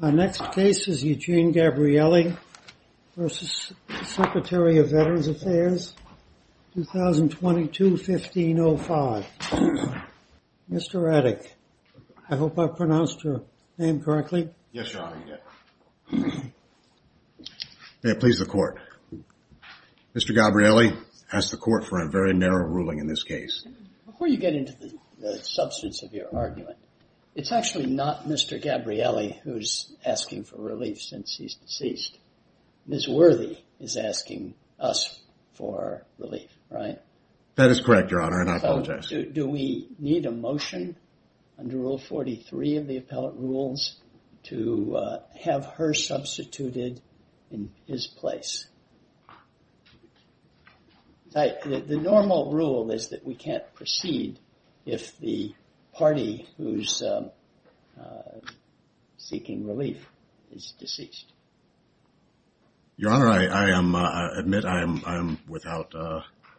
Our next case is Eugene Gabrielli v. Secretary of Veterans Affairs, 2022-1505. Mr. Radek, I hope I pronounced your name correctly. Yes, Your Honor, you did. May it please the Court. Mr. Gabrielli, I ask the Court for a very narrow ruling in this case. Before you get into the substance of your argument, it's actually not Mr. Gabrielli who's asking for relief since he's deceased. Ms. Worthy is asking us for relief, right? That is correct, Your Honor, and I apologize. Do we need a motion under Rule 43 of the Appellate Rules to have her substituted in his place? The normal rule is that we can't proceed if the party who's seeking relief is deceased. Your Honor, I admit I am without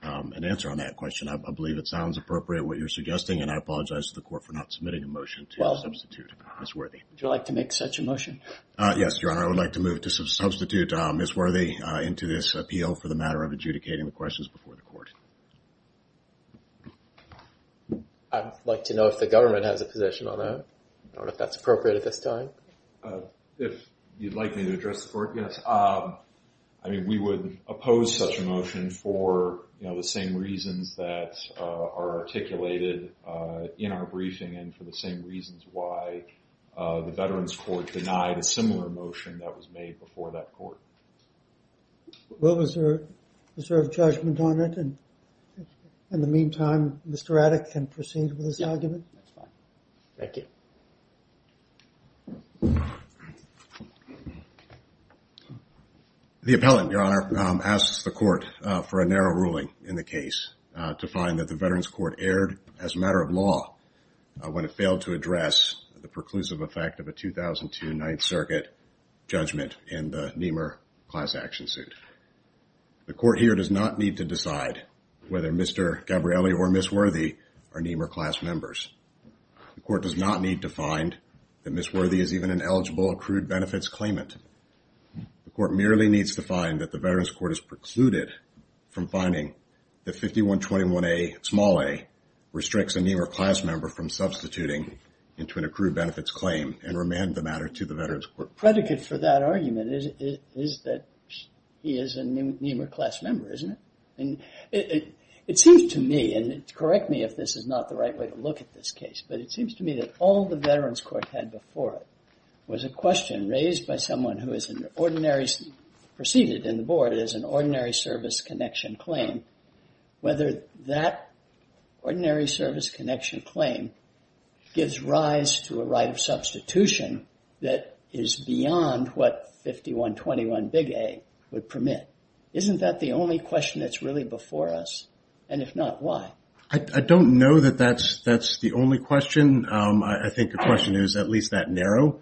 an answer on that question. I believe it sounds appropriate what you're suggesting, and I apologize to the Court for not submitting a motion to substitute Ms. Worthy. Would you like to make such a motion? Yes, Your Honor, I would like to move to substitute Ms. Worthy into this appeal for the matter of adjudicating the questions before the Court. I'd like to know if the government has a position on that. I don't know if that's appropriate at this time. If you'd like me to address the Court, yes. I mean, we would oppose such a motion for the same reasons that are articulated in our briefing and for the same reasons why the Veterans Court denied a similar motion that was made before that Court. Well, is there a judgment on it? In the meantime, Mr. Adick can proceed with his argument. Thank you. The appellant, Your Honor, asks the Court for a narrow ruling in the case to find that the Veterans Court erred as a matter of law when it failed to address the preclusive effect of a 2002 Ninth Circuit judgment in the Nehmer class action suit. The Court here does not need to decide whether Mr. Gabrielli or Ms. Worthy are Nehmer class members. The Court does not need to find that Ms. Worthy is even an eligible accrued benefits claimant. The Court merely needs to find that the Veterans Court has precluded from finding that 5121A, small a, restricts a Nehmer class member from substituting into an accrued benefits claim and remand the matter to the Veterans Court. Predicate for that argument is that he is a Nehmer class member, isn't it? And it seems to me, and correct me if this is not the right way to look at this case, but it seems to me that all the Veterans Court had before it was a question raised by someone who is an ordinary, preceded in the board, is an ordinary service connection claim. Whether that ordinary service connection claim gives rise to a right of substitution that is beyond what 5121A would permit. Isn't that the only question that's really before us? And if not, why? I don't know that that's the only question. I think the question is at least that narrow.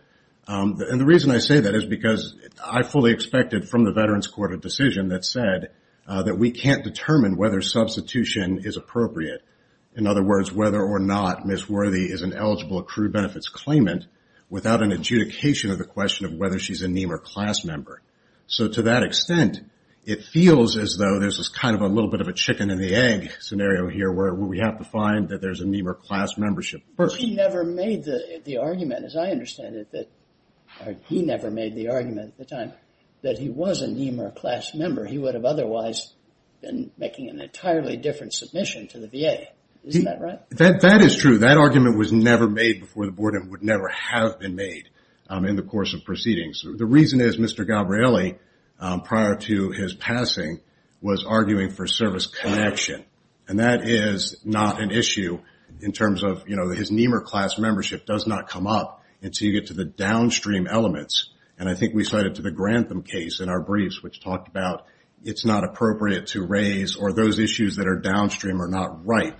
And the reason I say that is because I fully expected from the Veterans Court a decision that said that we can't determine whether substitution is appropriate. In other words, whether or not Ms. Worthy is an eligible accrued benefits claimant without an adjudication of the question of whether she's a Nehmer class member. So to that extent, it feels as though this is kind of a little bit of a chicken and the egg scenario here where we have to find that there's a Nehmer class membership. But he never made the argument, as I understand it, that he never made the argument at the time that he was a Nehmer class member. He would have otherwise been making an entirely different submission to the VA. Isn't that right? That is true. That argument was never made before the board and would never have been made in the course of proceedings. The reason is Mr. Gabrielli, prior to his passing, was arguing for service connection. And that is not an issue in terms of his Nehmer class membership does not come up until you get to the downstream elements. And I think we cited to the Grantham case in our briefs, which talked about it's not appropriate to raise or those issues that are downstream are not ripe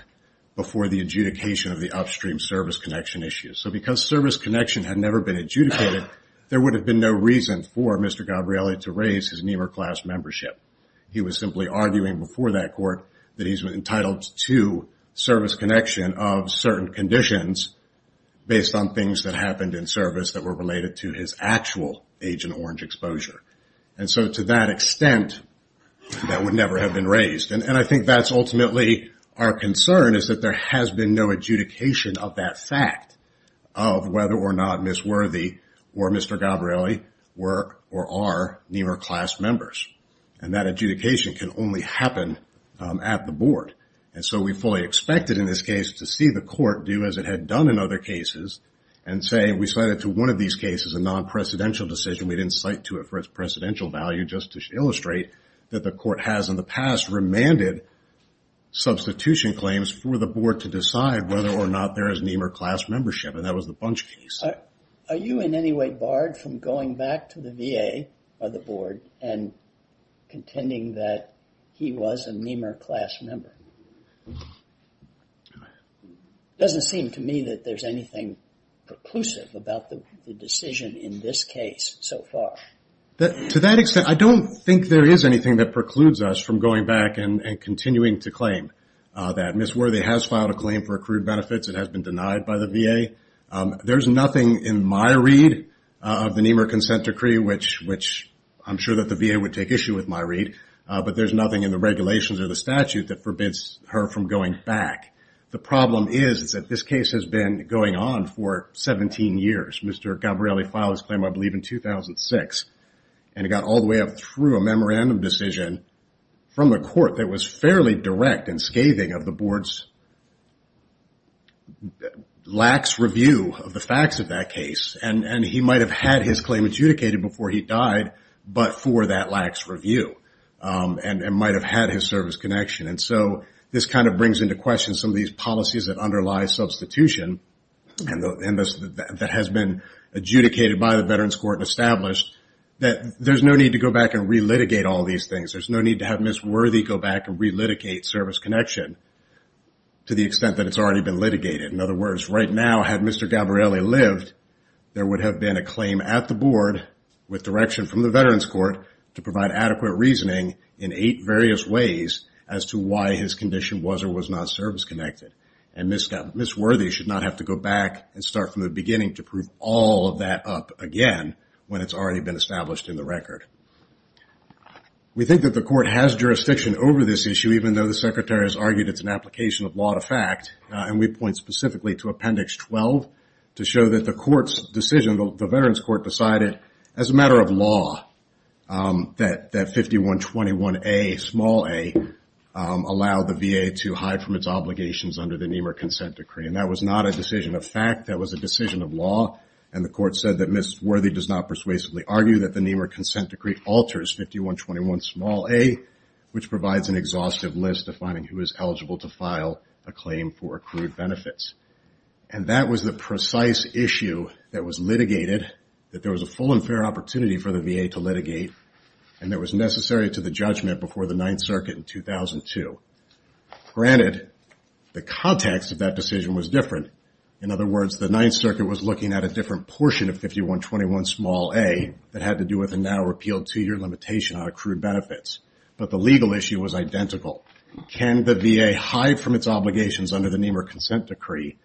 before the adjudication of the upstream service connection issues. So because service connection had never been adjudicated, there would have been no reason for Mr. Gabrielli to raise his Nehmer class membership. He was simply arguing before that he was entitled to service connection of certain conditions based on things that happened in service that were related to his actual Agent Orange exposure. And so to that extent, that would never have been raised. And I think that's ultimately our concern, is that there has been no adjudication of that fact of whether or not Ms. Worthy or Mr. Gabrielli were or are Nehmer class members. And that adjudication can only happen at the board. And so we fully expected in this case to see the court do as it had done in other cases and say we cited to one of these cases a non-presidential decision. We didn't cite to it for its presidential value just to illustrate that the court has in the past remanded substitution claims for the board to decide whether or not there is Nehmer class membership. And that was the Bunch case. Are you in any way barred from going back to the VA or the board and contending that he was a Nehmer class member? Doesn't seem to me that there's anything preclusive about the decision in this case so far. To that extent, I don't think there is anything that precludes us from going back and continuing to claim that Ms. Worthy has filed a claim for accrued benefits. It has been denied by the VA. There's nothing in my read of the Nehmer consent decree, which I'm sure that the VA would take issue with my read. But there's nothing in the regulations or the statute that forbids her from going back. The problem is that this case has been going on for 17 years. Mr. Gabrielli filed his claim, I believe, in 2006. And it got all the way up through a memorandum decision from a court that was fairly direct and scathing of the board's lax review of the facts of that case. And he might have had his claim adjudicated before he died, but for that lax review, and might have had his service connection. And so this kind of brings into question some of these policies that underlie substitution that has been adjudicated by the Veterans Court and established that there's no need to go back relitigate all these things. There's no need to have Ms. Worthy go back and relitigate service connection to the extent that it's already been litigated. In other words, right now, had Mr. Gabrielli lived, there would have been a claim at the board with direction from the Veterans Court to provide adequate reasoning in eight various ways as to why his condition was or was not service connected. And Ms. Worthy should not have to go back and start from the beginning to prove all of that up again when it's already been established in the record. We think that the court has jurisdiction over this issue, even though the Secretary has argued it's an application of law to fact. And we point specifically to Appendix 12 to show that the court's decision, the Veterans Court decided as a matter of law that 5121A, small a, allowed the VA to hide from its obligations under the Nehmer Consent Decree. And that was not a decision of fact. That was a decision of law. And the court said that Ms. Worthy does not persuasively argue that the Nehmer Consent Decree alters 5121 small a, which provides an exhaustive list of finding who is eligible to file a claim for accrued benefits. And that was the precise issue that was litigated, that there was a full and fair opportunity for the VA to litigate, and that was necessary to the judgment before the Ninth Circuit in 2002. Granted, the context of that decision was different. In other words, the Ninth Circuit was looking at a different portion of 5121 small a that had to do with a now-repealed two-year limitation on accrued benefits. But the legal issue was identical. Can the VA hide from its obligations under the Nehmer Consent Decree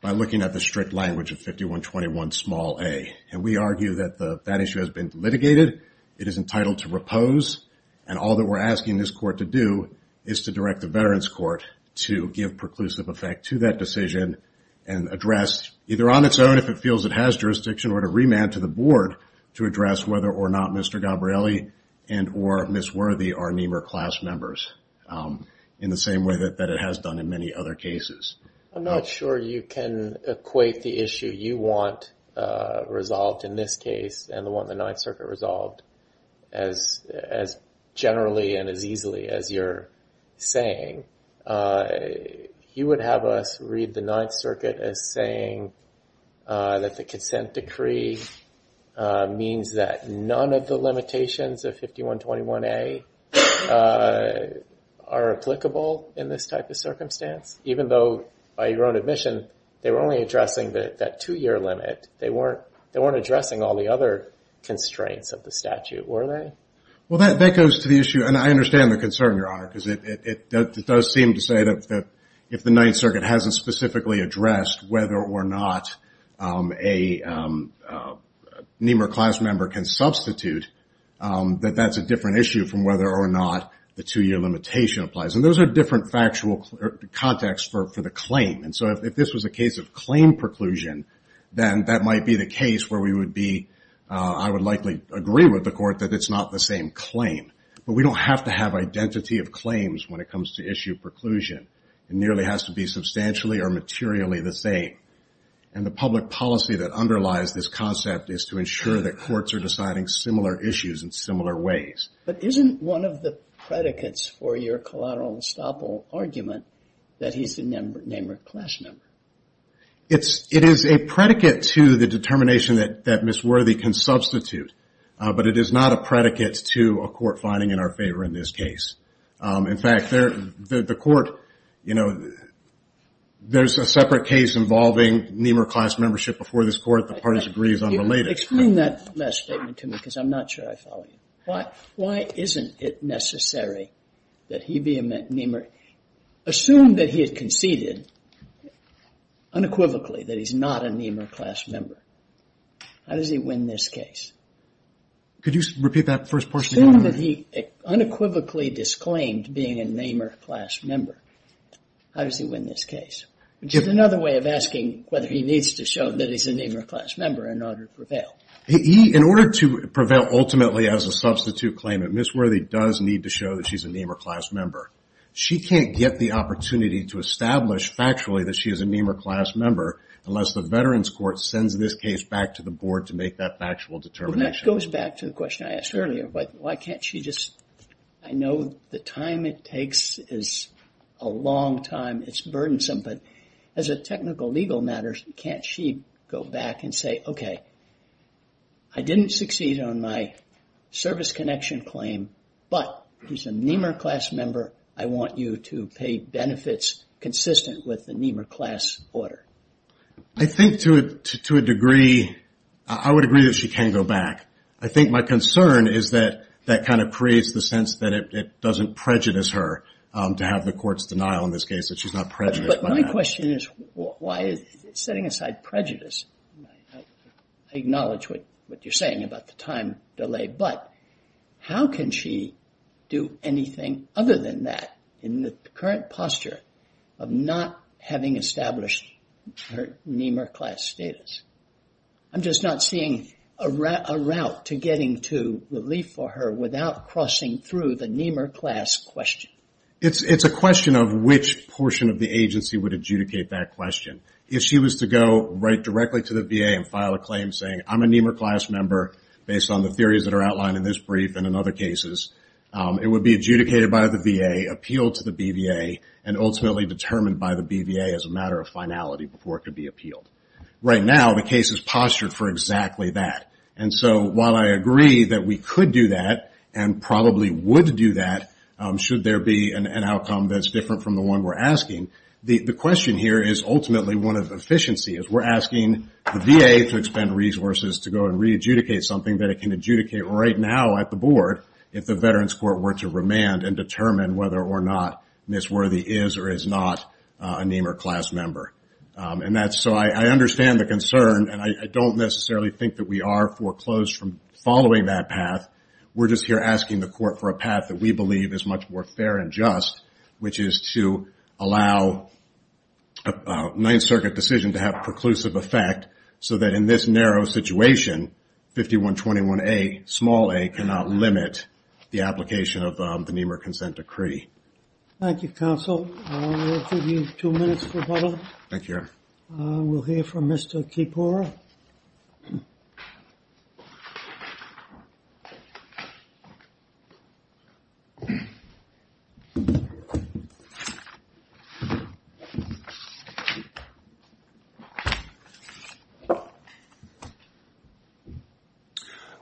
by looking at the strict language of 5121 small a? And we argue that that issue has been litigated. It is entitled to repose. And all that we're asking this court to do is to direct the Veterans Court to give preclusive effect to that decision and address, either on its own if it feels it jurisdiction, or to remand to the board to address whether or not Mr. Gabrielli and or Ms. Worthy are Nehmer class members in the same way that it has done in many other cases. I'm not sure you can equate the issue you want resolved in this case and the one the Ninth Circuit resolved as generally and as easily as you're saying. You would have us read the Nehmer Consent Decree means that none of the limitations of 5121 A are applicable in this type of circumstance? Even though, by your own admission, they were only addressing that two-year limit. They weren't addressing all the other constraints of the statute, were they? Well, that goes to the issue. And I understand the concern, Your Honor, because it does seem to say that if the Ninth Circuit hasn't specifically addressed whether or not a Nehmer class member can substitute, that that's a different issue from whether or not the two-year limitation applies. And those are different factual contexts for the claim. And so if this was a case of claim preclusion, then that might be the case where we would be, I would likely agree with the court that it's not the same claim. But we don't have to have identity of claims when it comes to preclusion. It nearly has to be substantially or materially the same. And the public policy that underlies this concept is to ensure that courts are deciding similar issues in similar ways. But isn't one of the predicates for your collateral estoppel argument that he's the Nehmer class member? It is a predicate to the determination that Miss Worthy can substitute. But it is not a predicate to a court finding in our favor in this case. In fact, there's a separate case involving Nehmer class membership before this court. The parties agree it's unrelated. Explain that last statement to me because I'm not sure I follow you. Why isn't it necessary that he be a Nehmer? Assume that he had conceded unequivocally that he's not a Nehmer class member. How does he win this case? Could you repeat that first portion? Assume that he unequivocally disclaimed being a Nehmer class member. How does he win this case? Which is another way of asking whether he needs to show that he's a Nehmer class member in order to prevail. He, in order to prevail ultimately as a substitute claimant, Miss Worthy does need to show that she's a Nehmer class member. She can't get the opportunity to establish factually that she is a Nehmer class member unless the veterans court sends this case back to the board to make that factual determination. That goes back to the question I asked earlier. Why can't she just... I know the time it takes is a long time. It's burdensome, but as a technical legal matter, can't she go back and say, okay, I didn't succeed on my service connection claim, but he's a Nehmer class member. I want you to pay benefits consistent with the Nehmer class order. I think to a degree, I would agree that she can go back. I think my concern is that that kind of creates the sense that it doesn't prejudice her to have the court's denial in this case that she's not prejudiced. But my question is, why is setting aside prejudice? I acknowledge what you're saying about the time delay, but how can she do anything other than that in the current posture of not having established her Nehmer class status? I'm just not seeing a route to getting to relief for her without crossing through the Nehmer class question. It's a question of which portion of the agency would adjudicate that question. If she was to go right directly to the VA and file a claim saying, I'm a Nehmer class member based on the theories that are outlined in this brief and in other cases, it would be adjudicated by the VA, appealed to the BVA, and ultimately determined by the BVA as a matter of finality before it could be appealed. Right now, the case is postured for exactly that. And so while I agree that we could do that and probably would do that should there be an outcome that's different from the one we're asking, the question here is ultimately one of re-adjudicate something that it can adjudicate right now at the board if the Veterans Court were to remand and determine whether or not Ms. Worthy is or is not a Nehmer class member. And so I understand the concern, and I don't necessarily think that we are foreclosed from following that path. We're just here asking the court for a path that we believe is much more fair and just, which is to allow a Ninth Circuit decision to have preclusive effect so that in this narrow situation, 5121A, small a, cannot limit the application of the Nehmer Consent Decree. Thank you, counsel. We'll give you two minutes for a bubble. Thank you. We'll hear from Mr. Kipora.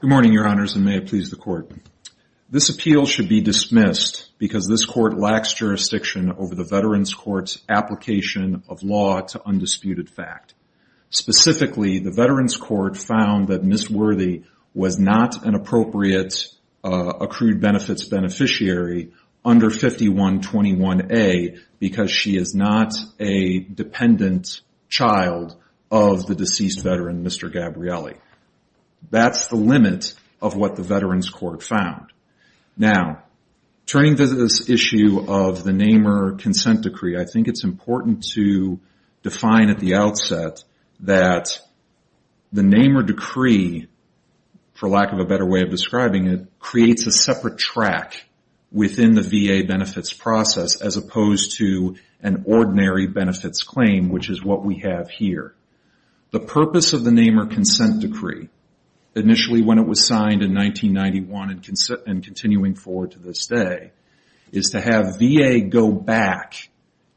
Good morning, Your Honors, and may it please the court. This appeal should be dismissed because this court lacks jurisdiction over the Veterans Court's application of law to specifically the Veterans Court found that Ms. Worthy was not an appropriate accrued benefits beneficiary under 5121A because she is not a dependent child of the deceased veteran, Mr. Gabrielli. That's the limit of what the Veterans Court found. Now, turning to this issue of the Nehmer Consent Decree, I think it's important to find at the outset that the Nehmer Decree, for lack of a better way of describing it, creates a separate track within the VA benefits process as opposed to an ordinary benefits claim, which is what we have here. The purpose of the Nehmer Consent Decree, initially when it was signed in 1991 and continuing forward to this day, is to have VA go back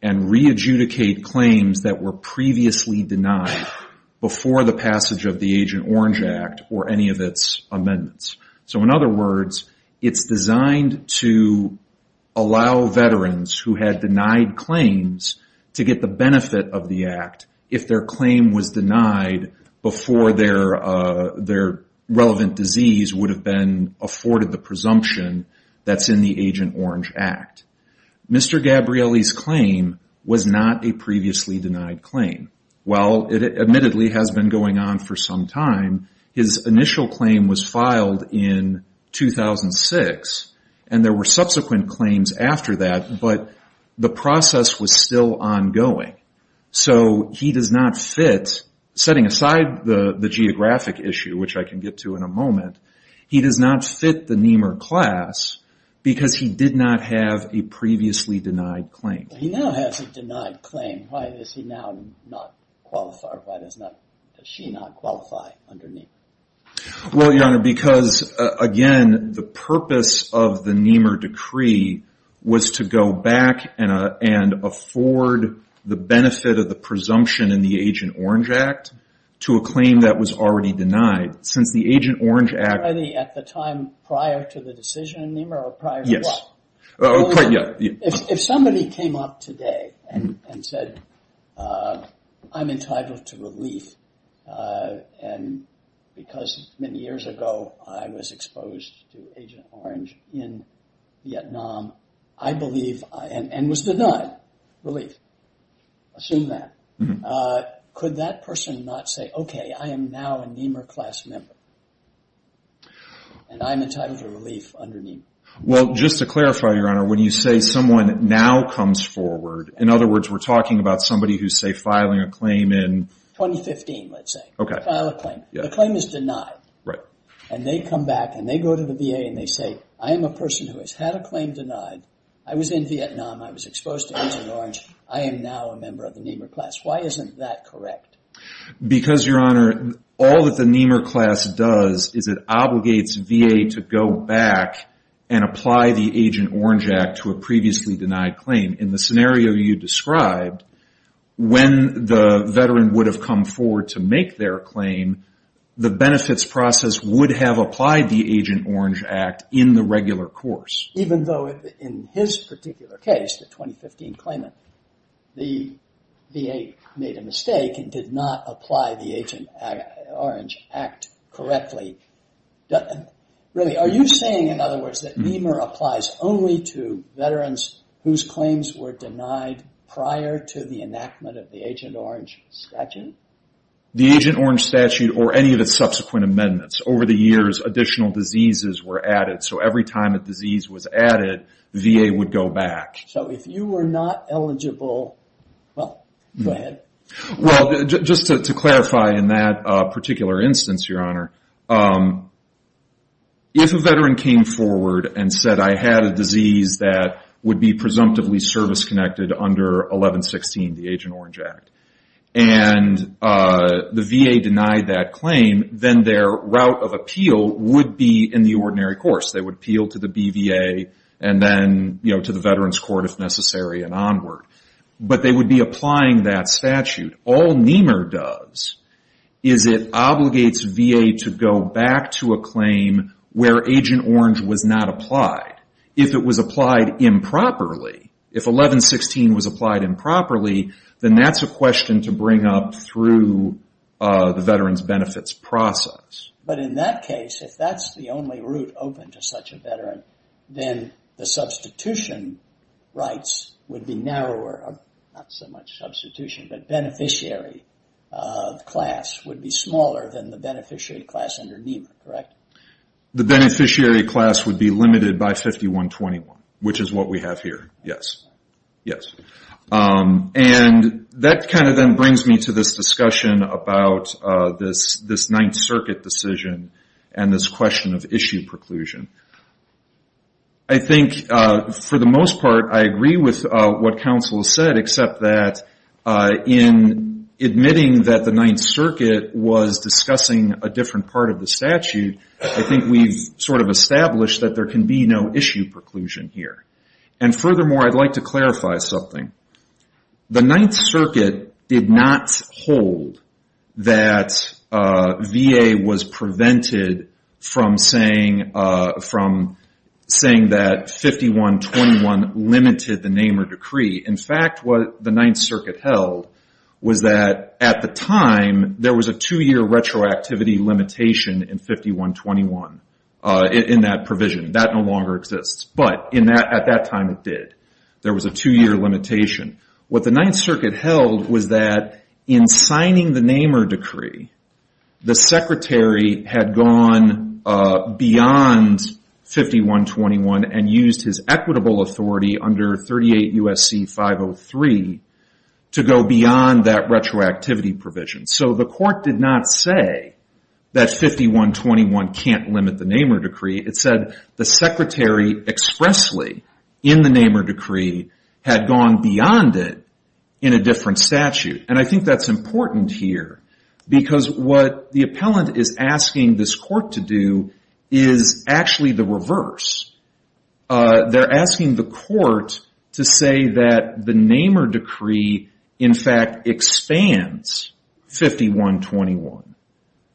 and re-adjudicate claims that were previously denied before the passage of the Agent Orange Act or any of its amendments. So in other words, it's designed to allow veterans who had denied claims to get the benefit of the act if their claim was denied before their relevant disease would have been afforded the presumption that's in the Agent Orange Act. Mr. Gabrielli's claim was not a previously denied claim. While it admittedly has been going on for some time, his initial claim was filed in 2006, and there were subsequent claims after that, but the process was still ongoing. So he does not fit, setting aside the geographic issue, which I can get to in a moment, he does not fit the Nehmer class because he did not have a previously denied claim. He now has a denied claim. Why does he now not qualify? Why does she not qualify under Nehmer? Well, Your Honor, because again, the purpose of the Nehmer Decree was to go back and afford the benefit of the presumption in the Agent Orange Act to a claim that was already denied. Since the Agent Orange Act- At the time prior to the decision in Nehmer or prior to what? Oh, yeah. If somebody came up today and said, I'm entitled to relief, and because many years ago, I was exposed to Agent Orange in Vietnam, I believe, and was denied relief. Assume that. Could that person not say, okay, I am now a Nehmer class member, and I'm entitled to relief under Nehmer? Well, just to clarify, Your Honor, when you say someone now comes forward, in other words, we're talking about somebody who's, say, filing a claim in- 2015, let's say. Okay. File a claim. The claim is denied. Right. And they come back and they go to the VA and they say, I am a person who has had a claim denied. I was in Vietnam. I was exposed to Agent Orange. I am now a member of the Nehmer class. Why isn't that correct? Because, Your Honor, all that the Nehmer class does is it obligates VA to go back and apply the Agent Orange Act to a previously denied claim. In the scenario you described, when the veteran would have come forward to make their claim, the benefits process would have applied the Agent Orange Act in the regular course. Even though in his particular case, the 2015 claimant, the VA made a mistake and did not apply the Agent Orange Act correctly. Really, are you saying, in other words, that Nehmer applies only to veterans whose claims were denied prior to the enactment of the Agent Orange statute? The Agent Orange statute or any of the subsequent amendments. Over the years, additional diseases were added. So, every time a disease was added, the VA would go back. So, if you were not eligible, well, go ahead. Well, just to clarify in that particular instance, Your Honor, if a veteran came forward and said, I had a disease that would be presumptively service connected under 1116, the Agent Orange Act, and the VA denied that claim, then their route of would be in the ordinary course. They would appeal to the BVA and then, you know, to the veterans court if necessary and onward. But they would be applying that statute. All Nehmer does is it obligates VA to go back to a claim where Agent Orange was not applied. If it was applied improperly, if 1116 was applied improperly, then that's a question to bring up through the veterans benefits process. But in that case, if that's the only route open to such a veteran, then the substitution rights would be narrower. Not so much substitution, but beneficiary class would be smaller than the beneficiary class under Nehmer, correct? The beneficiary class would be limited by 5121, which is what we have here. Yes. Yes. And that kind of then brings me to this discussion about this Ninth Circuit decision and this question of issue preclusion. I think for the most part, I agree with what counsel said, except that in admitting that the Ninth Circuit was discussing a different part of the statute, I think we've sort of established that there can be no issue preclusion here. And furthermore, I'd like to clarify something. The Ninth Circuit did not hold that VA was prevented from saying that 5121 limited the Nehmer decree. In fact, what the Ninth Circuit held was that at the time, there was a two-year retroactivity limitation in 5121 in that time it did. There was a two-year limitation. What the Ninth Circuit held was that in signing the Nehmer decree, the secretary had gone beyond 5121 and used his equitable authority under 38 USC 503 to go beyond that retroactivity provision. So the court did not say that 5121 can't limit the Nehmer decree. It said the secretary expressly in the Nehmer decree had gone beyond it in a different statute. And I think that's important here because what the appellant is asking this court to do is actually the reverse. They're asking the court to say that the Nehmer decree, in fact, expands 5121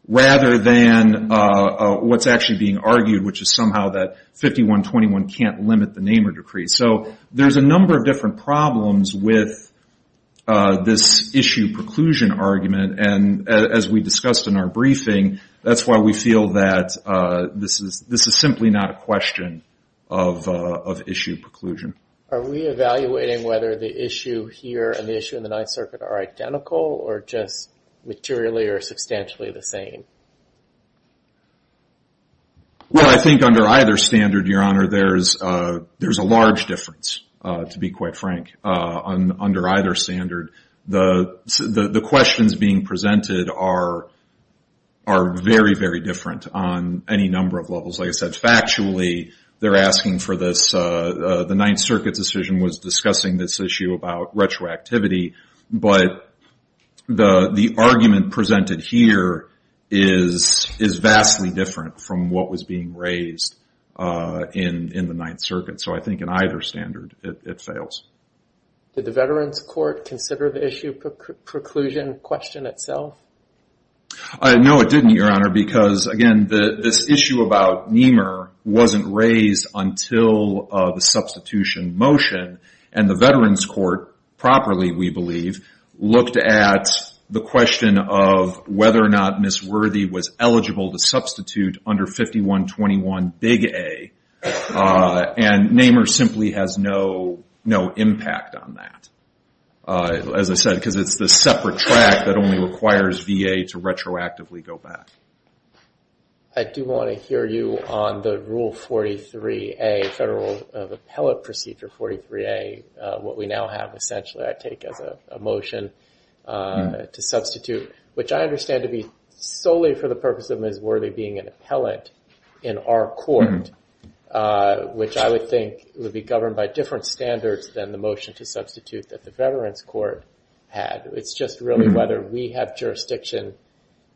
rather than what's actually being argued, which is somehow that 5121 can't limit the Nehmer decree. So there's a number of different problems with this issue preclusion argument. And as we discussed in our briefing, that's why we feel that this is simply not a question of issue preclusion. Are we evaluating whether the issue here and the issue in the Ninth Circuit are identical or just materially or substantially the same? Well, I think under either standard, Your Honor, there's a large difference, to be quite frank, under either standard. The questions being presented are very, very different on any circuit decision was discussing this issue about retroactivity. But the argument presented here is vastly different from what was being raised in the Ninth Circuit. So I think in either standard, it fails. Did the Veterans Court consider the issue preclusion question itself? No, it didn't, Your Honor, because again, this issue about Nehmer wasn't raised until the substitution motion. And the Veterans Court, properly, we believe, looked at the question of whether or not Ms. Worthy was eligible to substitute under 5121, Big A. And Nehmer simply has no impact on that, as I said, because it's the separate track that only requires VA to retroactively go back. I do want to hear you on the Rule 43A, Federal Appellate Procedure 43A, what we now have, essentially, I take as a motion to substitute, which I understand to be solely for the purpose of Ms. Worthy being an appellant in our court, which I would think would be governed by different standards than the motion to substitute that the Veterans Court had. It's just really whether we have jurisdiction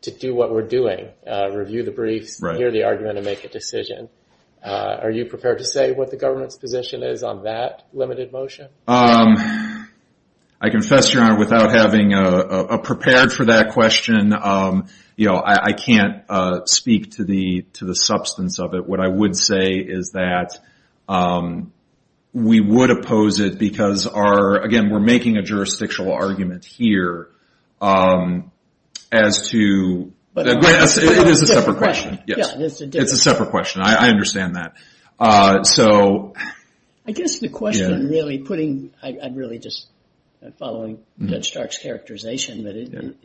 to do what we're doing, review the briefs, hear the argument, and make a decision. Are you prepared to say what the government's position is on that limited motion? I confess, Your Honor, without having prepared for that question, I can't speak to the substance of it. What I would say is that we would oppose it because again, we're making a jurisdictional argument here as to... It is a separate question. It's a separate question. I understand that. I guess the question really putting... I'm really just following Judge Stark's characterization, but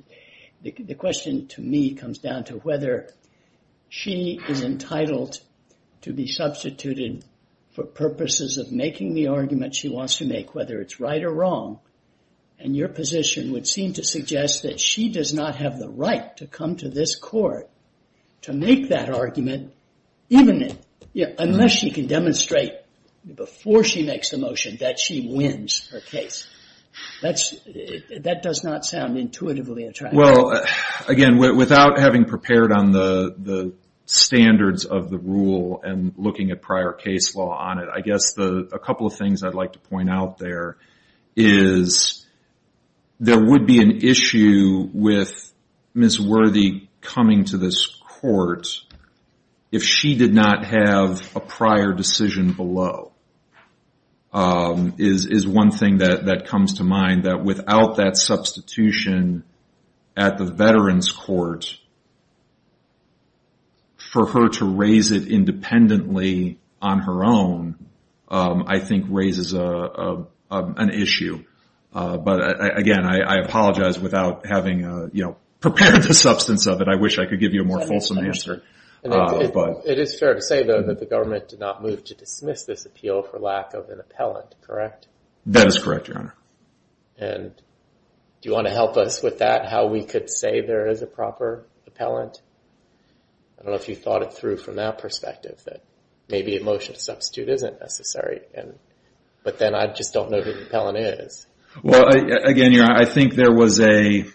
the question to me comes down to whether she is entitled to be substituted for purposes of right or wrong. Your position would seem to suggest that she does not have the right to come to this court to make that argument, even if... Unless she can demonstrate before she makes the motion that she wins her case. That does not sound intuitively attractive. Well, again, without having prepared on the standards of the rule and looking at prior case law on it, I guess a couple of things I'd like to point out there is there would be an issue with Ms. Worthy coming to this court if she did not have a prior decision below, is one thing that comes to mind, that without that substitution at the Veterans Court, for her to raise it independently on her own, I think raises an issue. But again, I apologize without having prepared the substance of it. I wish I could give you a more fulsome answer. It is fair to say though that the government did not move to dismiss this appeal for lack of an appellant, correct? That is correct, Your Honor. And do you want to help us with that, how we could say there is a proper appellant? I don't know if you thought it through from that perspective that maybe a motion to substitute isn't necessary. But then I just don't know who the appellant is. Well, again, Your Honor, I think there was a...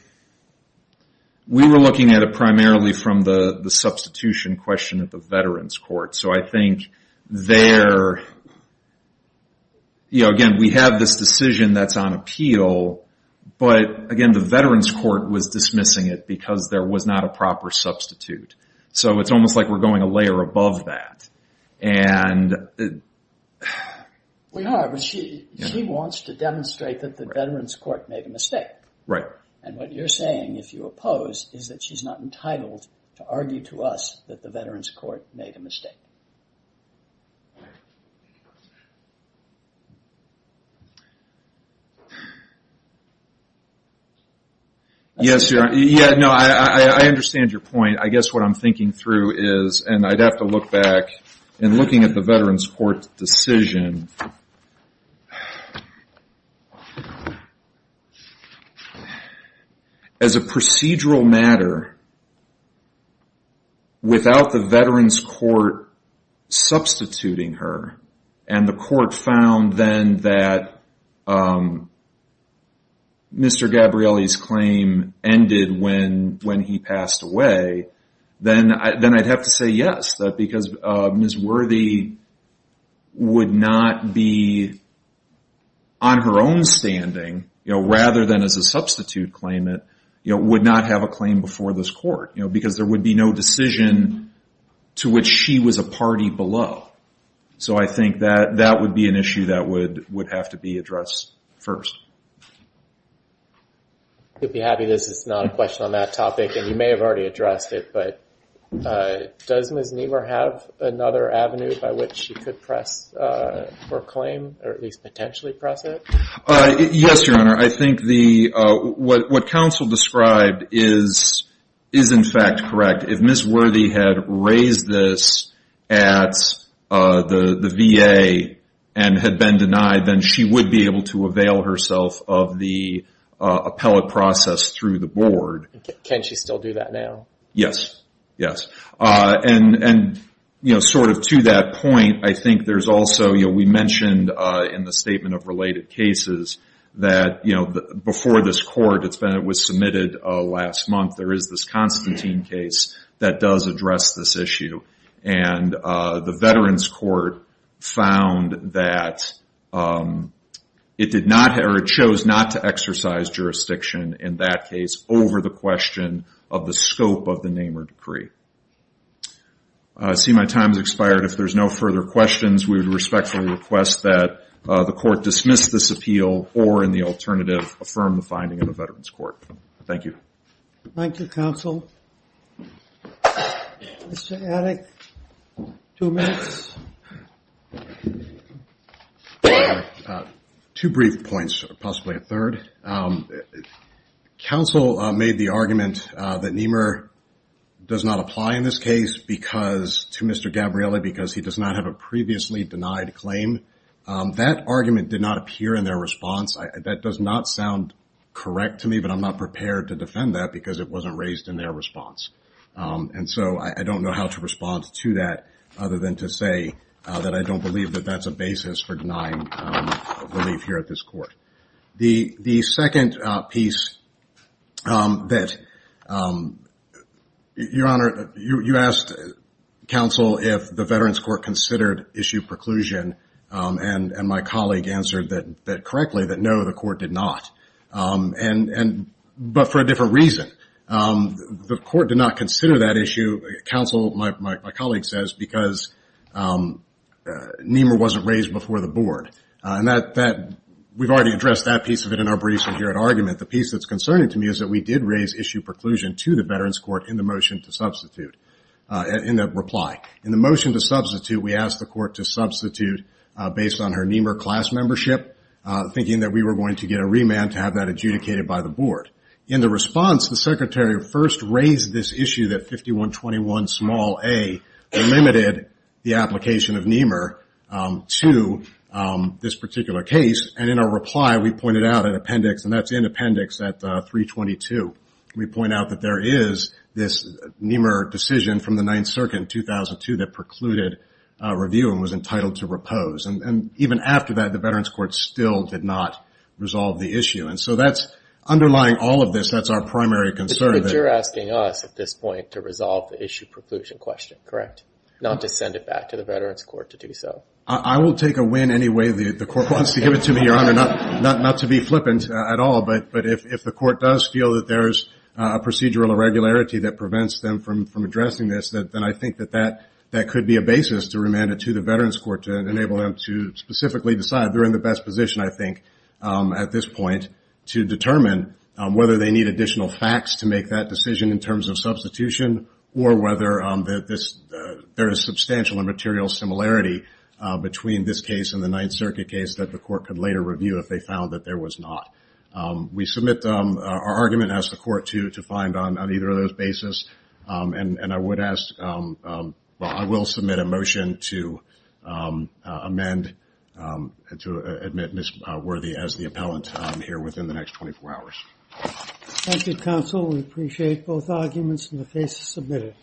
We were looking at it primarily from the substitution question at the Veterans Court. So I think there... Again, we have this decision that's on appeal. But again, the Veterans Court was dismissing it because there was not a proper substitute. So it's almost like we're going a layer above that. And... We are, but she wants to demonstrate that the Veterans Court made a mistake. Right. And what you're saying, if you oppose, is that she's not entitled to a substitute? Yes, Your Honor. No, I understand your point. I guess what I'm thinking through is, and I'd have to look back, in looking at the Veterans Court's decision, as a procedural matter, without the Veterans Court substituting her, and the court found then that if Mr. Gabrielli's claim ended when he passed away, then I'd have to say yes. Because Ms. Worthy would not be on her own standing, rather than as a substitute claimant, would not have a claim before this court. Because there would be no decision to which she was a party below. So I think that that would be an issue that would have to be addressed first. I'd be happy this is not a question on that topic, and you may have already addressed it, but does Ms. Niemer have another avenue by which she could press for a claim, or at least potentially press it? Yes, Your Honor. I think what counsel described is in fact correct. If Ms. Worthy had raised this at the VA, and had been denied, then she would be able to avail herself of the appellate process through the board. Can she still do that now? Yes. Yes. And sort of to that point, I think there's also, we mentioned in the statement of related cases, that before this court, it was submitted last month, there is this Constantine case that does address this issue. And the Veterans Court found that it did not, or it chose not to exercise jurisdiction in that case, over the question of the scope of the Niemer decree. I see my time has expired. If there's no further questions, we would respectfully request that the court dismiss this appeal, or in the alternative, affirm the finding of the Veterans Court. Thank you. Thank you, counsel. Mr. Adick, two minutes. Two brief points, possibly a third. Counsel made the argument that Niemer does not apply in this case because, to Mr. Gabrielli, because he does not have a previously denied claim. That argument did not appear in their that because it wasn't raised in their response. And so I don't know how to respond to that, other than to say that I don't believe that that's a basis for denying relief here at this court. The second piece that, Your Honor, you asked counsel if the Veterans Court considered issue preclusion, and my colleague answered that correctly, that no, the court did not. And, but for a different reason. The court did not consider that issue, counsel, my colleague says, because Niemer wasn't raised before the board. And that, we've already addressed that piece of it in our briefs here at argument. The piece that's concerning to me is that we did raise issue preclusion to the Veterans Court in the motion to substitute, in the reply. In the motion to substitute, we asked the court to substitute based on her Niemer class membership, thinking that we were going to get a remand to have that adjudicated by the board. In the response, the secretary first raised this issue that 5121 small A limited the application of Niemer to this particular case. And in our reply, we pointed out an appendix, and that's in appendix at 322. We point out that there is this Niemer decision from the Ninth Circuit in 2002 that precluded review and was entitled to still did not resolve the issue. And so that's underlying all of this. That's our primary concern. But you're asking us at this point to resolve the issue preclusion question, correct? Not to send it back to the Veterans Court to do so. I will take a win anyway that the court wants to give it to me, Your Honor. Not to be flippant at all. But if the court does feel that there's a procedural irregularity that prevents them from addressing this, then I think that that could be a basis to remand it to the Veterans Court to specifically decide they're in the best position, I think, at this point to determine whether they need additional facts to make that decision in terms of substitution or whether there is substantial and material similarity between this case and the Ninth Circuit case that the court could later review if they found that there was not. We submit our argument, ask the court to amend to admit Ms. Worthy as the appellant here within the next 24 hours. Thank you, counsel. We appreciate both arguments and the case is submitted.